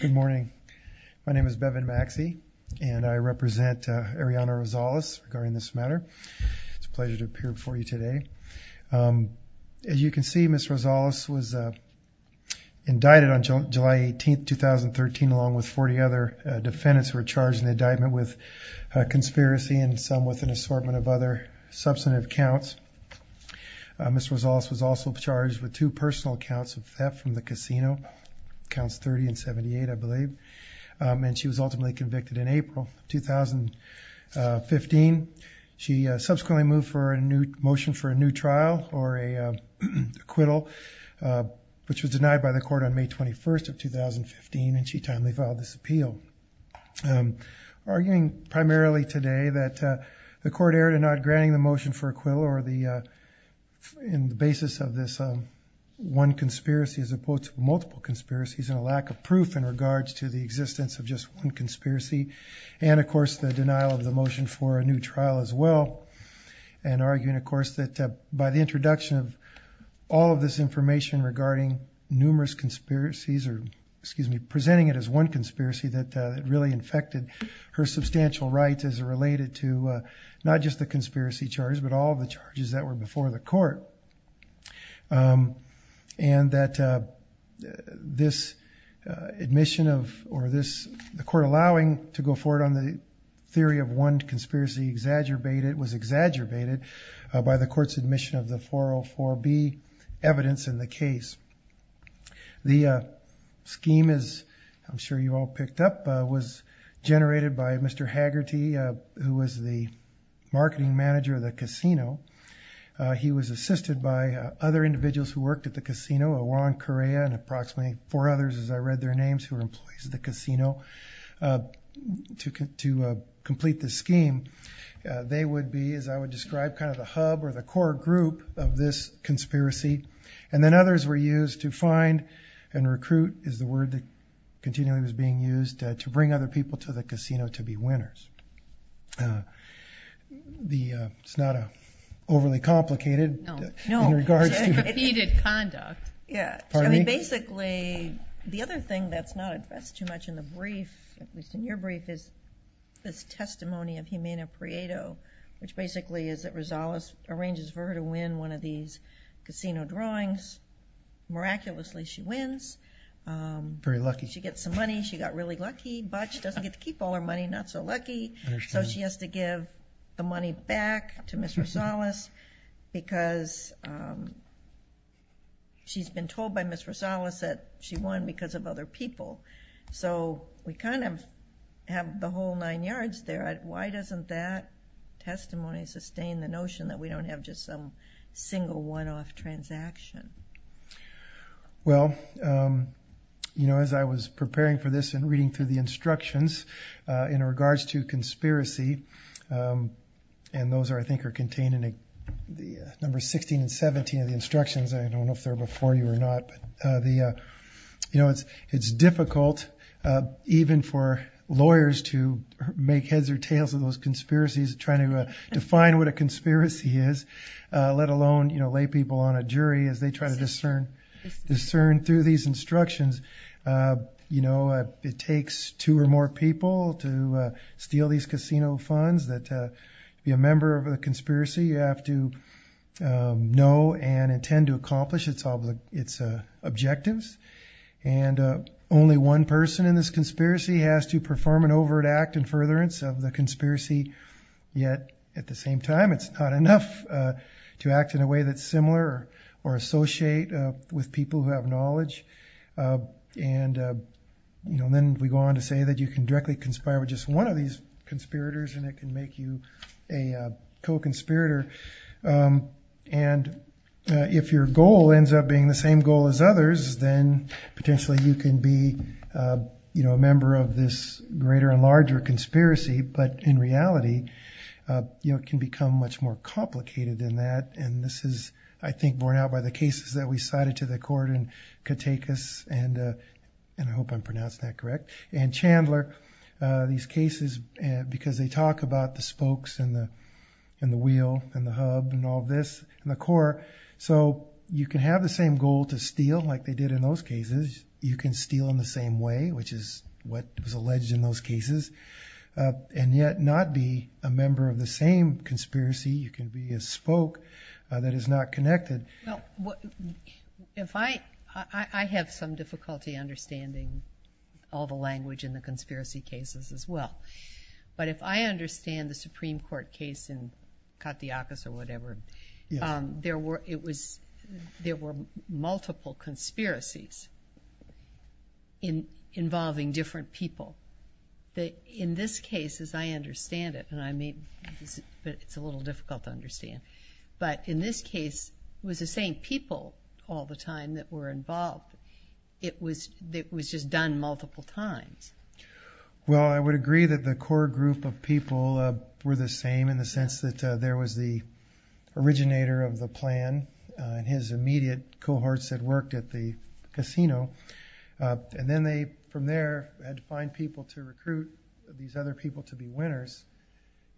Good morning, my name is Bevin Maxey, and I represent Arianna Rosales regarding this matter It's a pleasure to appear before you today As you can see miss Rosales was Indicted on July 18th 2013 along with 40 other defendants were charged in the indictment with Conspiracy and some with an assortment of other substantive counts Miss Rosales was also charged with two personal counts of theft from the casino Counts 30 and 78, I believe And she was ultimately convicted in April 2015 she subsequently moved for a new motion for a new trial or a acquittal Which was denied by the court on May 21st of 2015 and she timely filed this appeal Arguing primarily today that the court erred in not granting the motion for acquittal or the in the basis of this one conspiracy as opposed to multiple conspiracies and a lack of proof in regards to the existence of just one conspiracy and of course the denial of the motion for a new trial as well and Arguing of course that by the introduction of all of this information regarding numerous conspiracies or excuse me Infected her substantial rights as it related to not just the conspiracy charge, but all the charges that were before the court and that this admission of or this the court allowing to go forward on the Theory of one conspiracy exaggerated was exaggerated by the court's admission of the 404 be evidence in the case the Scheme is I'm sure you all picked up was generated by mr. Haggerty who was the marketing manager of the casino He was assisted by other individuals who worked at the casino a long Korea and approximately four others as I read their names who are employees of the casino Took it to complete the scheme They would be as I would describe kind of a hub or the core group of this Conspiracy and then others were used to find and recruit is the word that Continually was being used to bring other people to the casino to be winners The it's not a overly complicated Yeah, I mean basically The other thing that's not at best too much in the brief at least in your brief is this testimony of Humana Prieto Which basically is that Rosales arranges for her to win one of these casino drawings miraculously, she wins Very lucky. She gets some money. She got really lucky, but she doesn't get to keep all her money. Not so lucky So she has to give the money back to mr. Salas because She's been told by mr. Salas that she won because of other people so we kind of Have the whole nine yards there. Why doesn't that? Testimony sustain the notion that we don't have just some single one-off transaction well You know as I was preparing for this and reading through the instructions in regards to conspiracy And those are I think are contained in the number 16 and 17 of the instructions I don't know if they're before you or not the You know, it's it's difficult Even for lawyers to make heads or tails of those conspiracies trying to define what a conspiracy is Let alone, you know lay people on a jury as they try to discern discern through these instructions you know, it takes two or more people to steal these casino funds that be a member of a conspiracy you have to know and intend to accomplish its all of its objectives and Only one person in this conspiracy has to perform an overt act and furtherance of the conspiracy Yet at the same time, it's not enough to act in a way that's similar or associate with people who have knowledge and you know, then we go on to say that you can directly conspire with just one of these conspirators and it can make you a co-conspirator and If your goal ends up being the same goal as others then potentially you can be You know a member of this greater and larger conspiracy, but in reality You know can become much more complicated than that and this is I think borne out by the cases that we cited to the court in Katakis and And I hope I'm pronouncing that correct and Chandler These cases and because they talk about the spokes and the and the wheel and the hub and all this in the court So you can have the same goal to steal like they did in those cases You can steal in the same way, which is what was alleged in those cases And yet not be a member of the same conspiracy. You can be a spoke that is not connected. No Cases as well, but if I understand the Supreme Court case in Katakis or whatever There were it was there were multiple conspiracies in involving different people That in this case as I understand it and I mean But it's a little difficult to understand but in this case was the same people all the time that were involved It was that was just done multiple times well, I would agree that the core group of people were the same in the sense that there was the Originator of the plan and his immediate cohorts that worked at the casino And then they from there had to find people to recruit these other people to be winners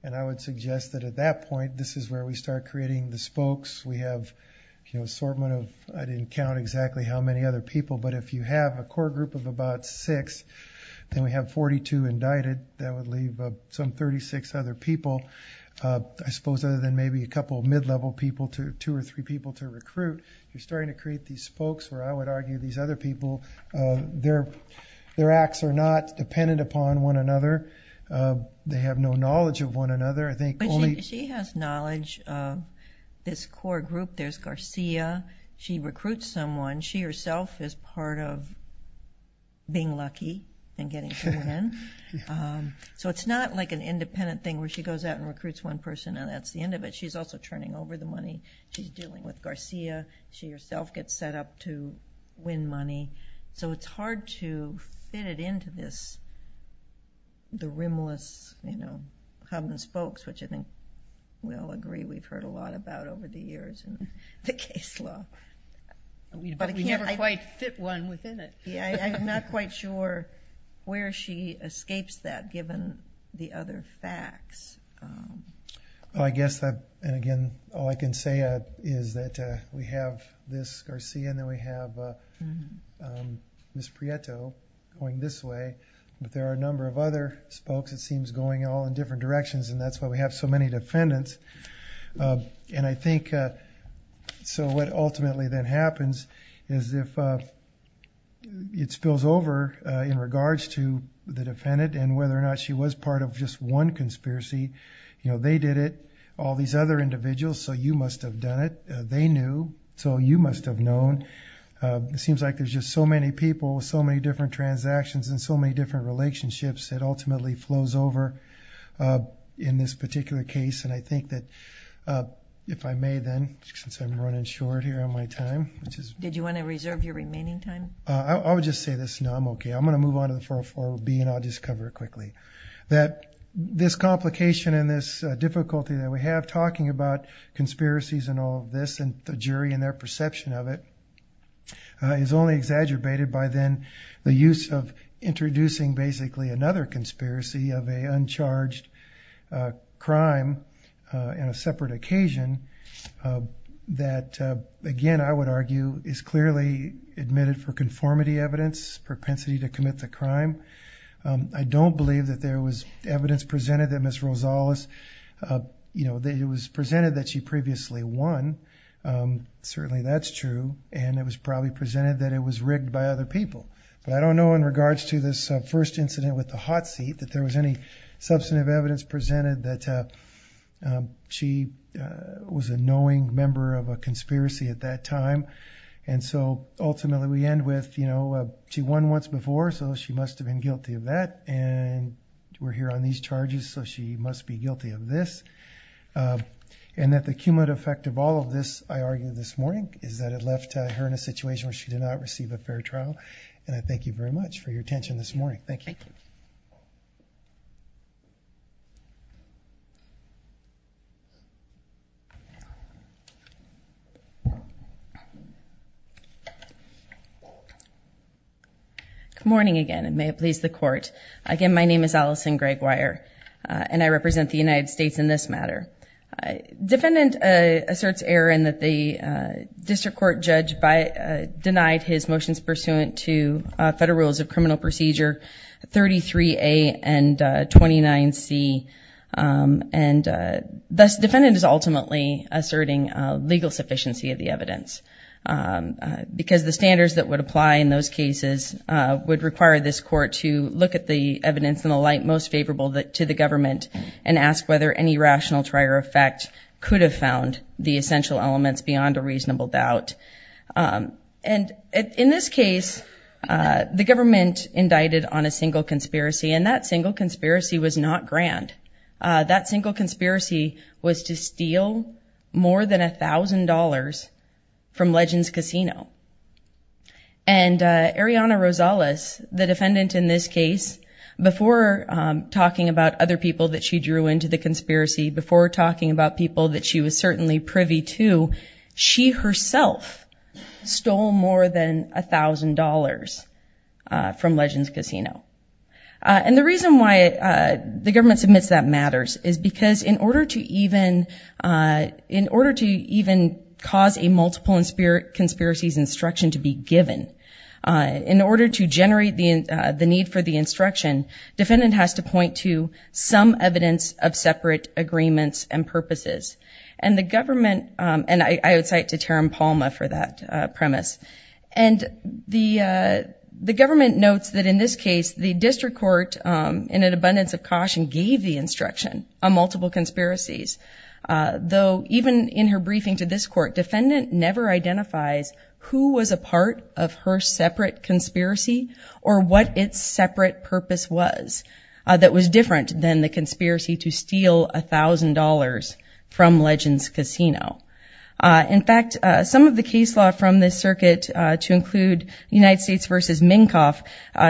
And I would suggest that at that point. This is where we start creating the spokes We have you know assortment of I didn't count exactly how many other people but if you have a core group of about six Then we have 42 indicted that would leave some 36 other people I suppose other than maybe a couple of mid-level people to two or three people to recruit You're starting to create these spokes where I would argue these other people Their their acts are not dependent upon one another They have no knowledge of one another. I think she has knowledge This core group. There's Garcia. She recruits someone she herself is part of Being lucky and getting to win So it's not like an independent thing where she goes out and recruits one person and that's the end of it She's also turning over the money. She's dealing with Garcia. She herself gets set up to win money So it's hard to fit it into this The rimless, you know hubbins folks, which I think we all agree. We've heard a lot about over the years and the case law We never quite fit one within it, yeah, I'm not quite sure Where she escapes that given the other facts? I Guess that and again, all I can say is that we have this Garcia and then we have Miss Prieto going this way, but there are a number of other spokes It seems going all in different directions and that's why we have so many defendants and I think So what ultimately then happens is if It spills over in regards to the defendant and whether or not she was part of just one conspiracy You know, they did it all these other individuals. So you must have done it. They knew so you must have known It seems like there's just so many people with so many different transactions and so many different relationships. It ultimately flows over in this particular case, and I think that If I may then since I'm running short here on my time, which is did you want to reserve your remaining time? I would just say this. No, I'm okay I'm gonna move on to the 404 B and I'll just cover it quickly that this complication in this Difficulty that we have talking about Conspiracies and all of this and the jury and their perception of it Is only exaggerated by then the use of introducing basically another conspiracy of a uncharged crime in a separate occasion That again, I would argue is clearly admitted for conformity evidence propensity to commit the crime I don't believe that there was evidence presented that miss Rosales You know that it was presented that she previously won Certainly, that's true. And it was probably presented that it was rigged by other people but I don't know in regards to this first incident with the hot seat that there was any substantive evidence presented that she Was a knowing member of a conspiracy at that time and so ultimately we end with you know, she won once before so she must have been guilty of that and We're here on these charges. So she must be guilty of this And that the cumulative effect of all of this I argued this morning is that it left her in a situation where she did not Receive a fair trial and I thank you very much for your attention this morning. Thank you You Good morning again, and may it please the court again. My name is Allison Greg wire and I represent the United States in this matter defendant asserts Aaron that the District Court judge by denied his motions pursuant to federal rules of criminal procedure 33 a and 29 C And thus defendant is ultimately asserting legal sufficiency of the evidence Because the standards that would apply in those cases would require this court to look at the evidence in the light most favorable that to the government and Asked whether any rational trier effect could have found the essential elements beyond a reasonable doubt and in this case The government indicted on a single conspiracy and that single conspiracy was not grand that single conspiracy was to steal more than a thousand dollars from Legends Casino and Ariana Rosales the defendant in this case before Talking about other people that she drew into the conspiracy before talking about people that she was certainly privy to she herself stole more than a thousand dollars from Legends Casino And the reason why the government submits that matters is because in order to even In order to even cause a multiple and spirit conspiracies instruction to be given in order to generate the the need for the instruction defendant has to point to some evidence of separate agreements and purposes and the government and I would cite to Tarim Palma for that premise and the The government notes that in this case the district court in an abundance of caution gave the instruction on multiple conspiracies Though even in her briefing to this court defendant never identifies who was a part of her separate Conspiracy or what its separate purpose was that was different than the conspiracy to steal a thousand dollars from Legends Casino In fact some of the case law from this circuit to include United States versus Minkoff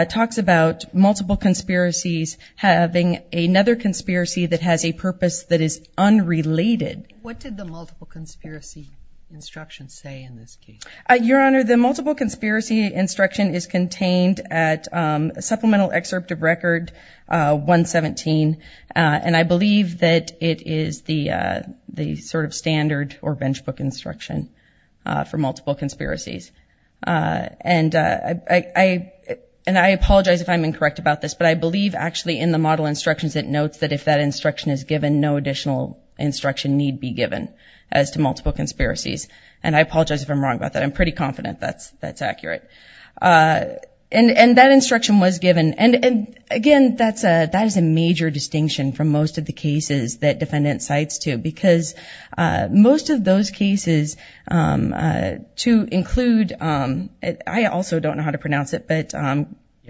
Talks about multiple conspiracies having another conspiracy that has a purpose that is unrelated What did the multiple conspiracy? Instructions say in this case your honor the multiple conspiracy instruction is contained at supplemental excerpt of record 117 and I believe that it is the The sort of standard or bench book instruction for multiple conspiracies and I And I apologize if I'm incorrect about this, but I believe actually in the model instructions It notes that if that instruction is given no additional Instruction need be given as to multiple conspiracies, and I apologize if I'm wrong about that. I'm pretty confident. That's that's accurate And and that instruction was given and and again that's a that is a major distinction from most of the cases that defendant cites to because most of those cases To include it. I also don't know how to pronounce it, but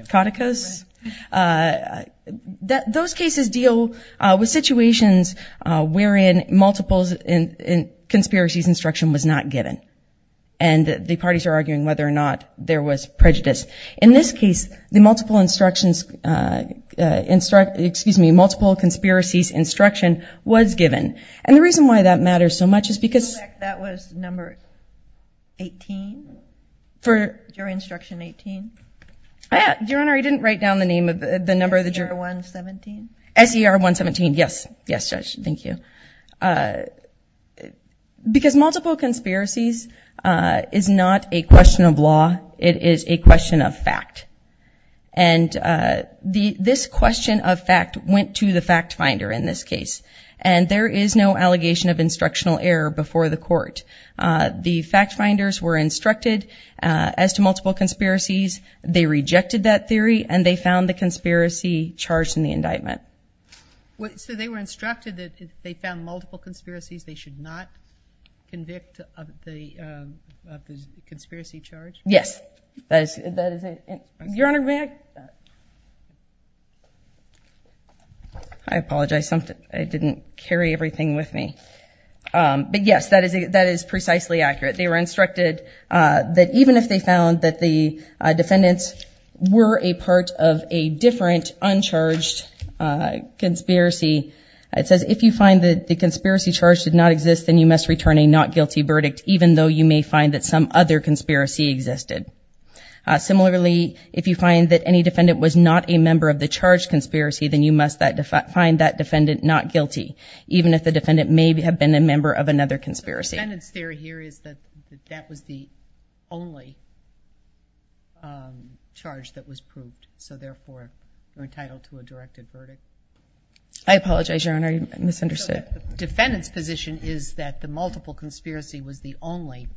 Katika's That those cases deal with situations wherein multiples in conspiracies instruction was not given and The parties are arguing whether or not there was prejudice in this case the multiple instructions Instruct excuse me multiple conspiracies instruction was given and the reason why that matters so much is because For your instruction 18, I had your honor. He didn't write down the name of the number of the juror 117 Ser 117. Yes. Yes, sir. Thank you Because multiple conspiracies is not a question of law. It is a question of fact and The this question of fact went to the fact finder in this case and there is no allegation of instructional error before the court The fact finders were instructed as to multiple conspiracies They rejected that theory and they found the conspiracy charged in the indictment What so they were instructed that they found multiple conspiracies. They should not convict of the Conspiracy charge yes Your honor back I Apologize something I didn't carry everything with me But yes, that is a that is precisely accurate. They were instructed that even if they found that the Defendants were a part of a different uncharged Conspiracy it says if you find that the conspiracy charge did not exist Then you must return a not guilty verdict, even though you may find that some other conspiracy existed Similarly, if you find that any defendant was not a member of the charge conspiracy Then you must that define that defendant not guilty Even if the defendant may have been a member of another conspiracy Here is that that was the only Charge that was proved so therefore we're entitled to a directed verdict. I Apologize your honor. You misunderstood Defendants position is that the multiple conspiracy was the only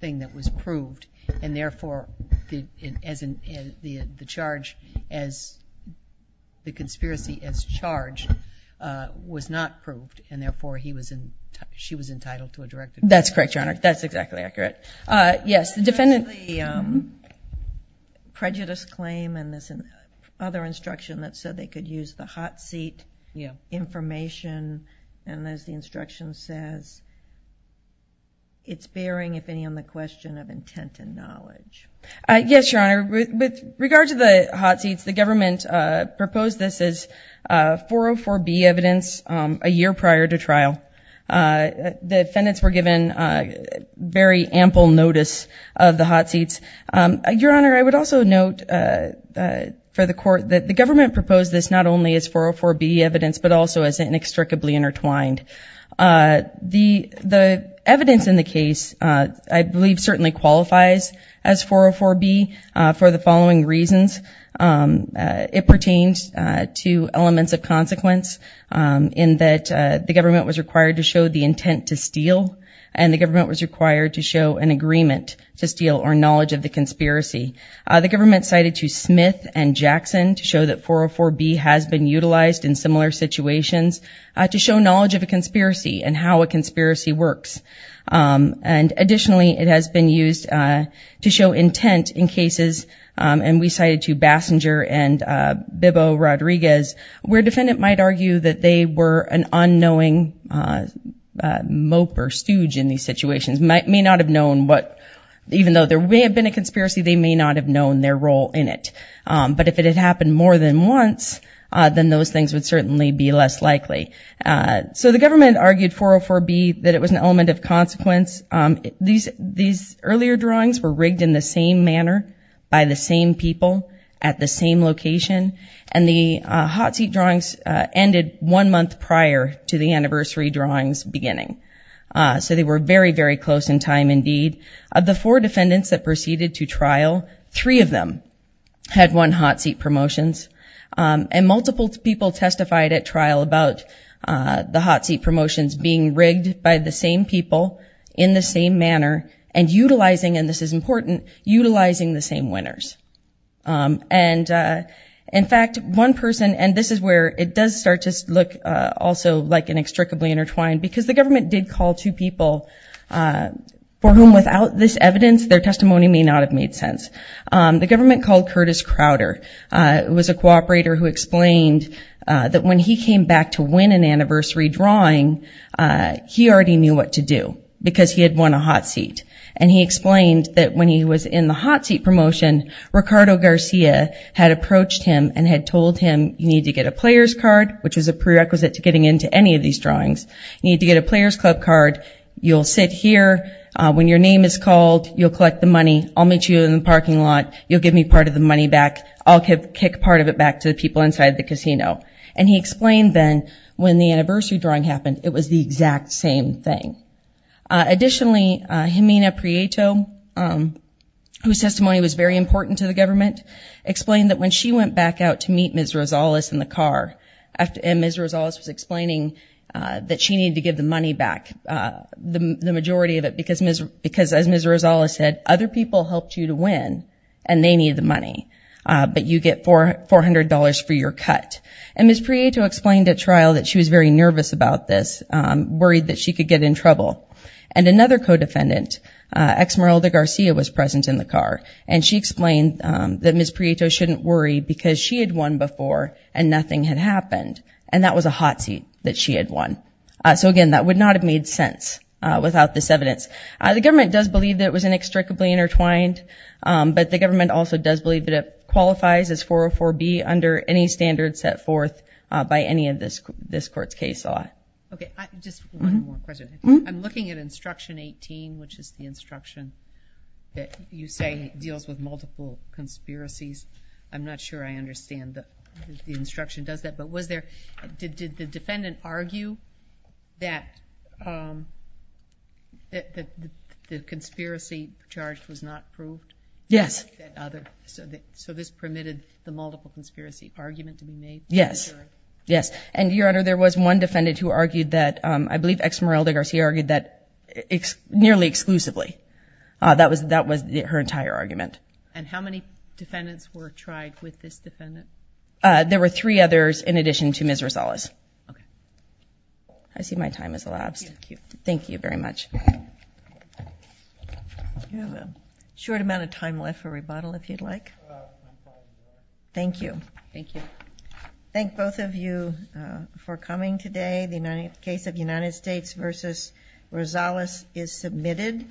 thing that was proved and therefore as in the the charge as the conspiracy as charged Was not proved and therefore he was in she was entitled to a directed. That's correct your honor. That's exactly accurate Yes, the defendant Prejudice claim and this and other instruction that said they could use the hot seat. Yeah information and as the instruction says It's bearing if any on the question of intent and knowledge Yes, your honor with regard to the hot seats the government proposed. This is 404 B evidence a year prior to trial the defendants were given a Very ample notice of the hot seats your honor. I would also note For the court that the government proposed this not only as 404 B evidence, but also as inextricably intertwined The the evidence in the case, I believe certainly qualifies as 404 B for the following reasons it pertains to elements of consequence In that the government was required to show the intent to steal and the government was required to show an agreement to steal or knowledge of the conspiracy The government cited to Smith and Jackson to show that 404 B has been utilized in similar situations To show knowledge of a conspiracy and how a conspiracy works and additionally it has been used to show intent in cases and we cited to Basinger and Bibbo Rodriguez where defendant might argue that they were an unknowing Mope or stooge in these situations might may not have known what even though there may have been a conspiracy They may not have known their role in it But if it had happened more than once Then those things would certainly be less likely So the government argued 404 B that it was an element of consequence these these earlier drawings were rigged in the same manner by the same people at the same location and the Hot seat drawings ended one month prior to the anniversary drawings beginning So they were very very close in time indeed of the four defendants that proceeded to trial three of them Had one hot seat promotions and multiple people testified at trial about the hot seat promotions being rigged by the same people in the same manner and Utilizing and this is important utilizing the same winners and in fact one person and this is where it does start to look also like inextricably intertwined because the government did call two people For whom without this evidence their testimony may not have made sense The government called Curtis Crowder it was a cooperator who explained that when he came back to win an anniversary drawing He already knew what to do because he had won a hot seat and he explained that when he was in the hot seat promotion Ricardo Garcia had approached him and had told him you need to get a players card Which is a prerequisite to getting into any of these drawings you need to get a players club card You'll sit here when your name is called you'll collect the money. I'll meet you in the parking lot You'll give me part of the money back I'll kick part of it back to the people inside the casino and he explained then when the anniversary drawing happened It was the exact same thing Additionally Jimena Prieto Whose testimony was very important to the government explained that when she went back out to meet Miss Rosales in the car After in Miss Rosales was explaining that she needed to give the money back The majority of it because Miss because as Miss Rosales said other people helped you to win and they needed the money But you get four four hundred dollars for your cut and Miss Prieto explained at trial that she was very nervous about this Worried that she could get in trouble and another co-defendant Exmeralda Garcia was present in the car and she explained that Miss Prieto shouldn't worry because she had won before and nothing had happened And that was a hot seat that she had won So again, that would not have made sense without this evidence. The government does believe that it was inextricably intertwined But the government also does believe that it qualifies as 404 B under any standard set forth by any of this this court's case I'm looking at instruction 18, which is the instruction that you say deals with multiple conspiracies I'm not sure. I understand that the instruction does that but was there did the defendant argue that The conspiracy charge was not proved. Yes So this permitted the multiple conspiracy argument to be made. Yes. Yes And your honor there was one defendant who argued that I believe Exmeralda Garcia argued that nearly exclusively That was that was her entire argument and how many defendants were tried with this defendant There were three others in addition to Miss Rosales. I See my time is elapsed. Thank you. Thank you very much Short amount of time left for rebuttal if you'd like Thank you. Thank you. Thank both of you for coming today the United case of United States versus Rosales is submitted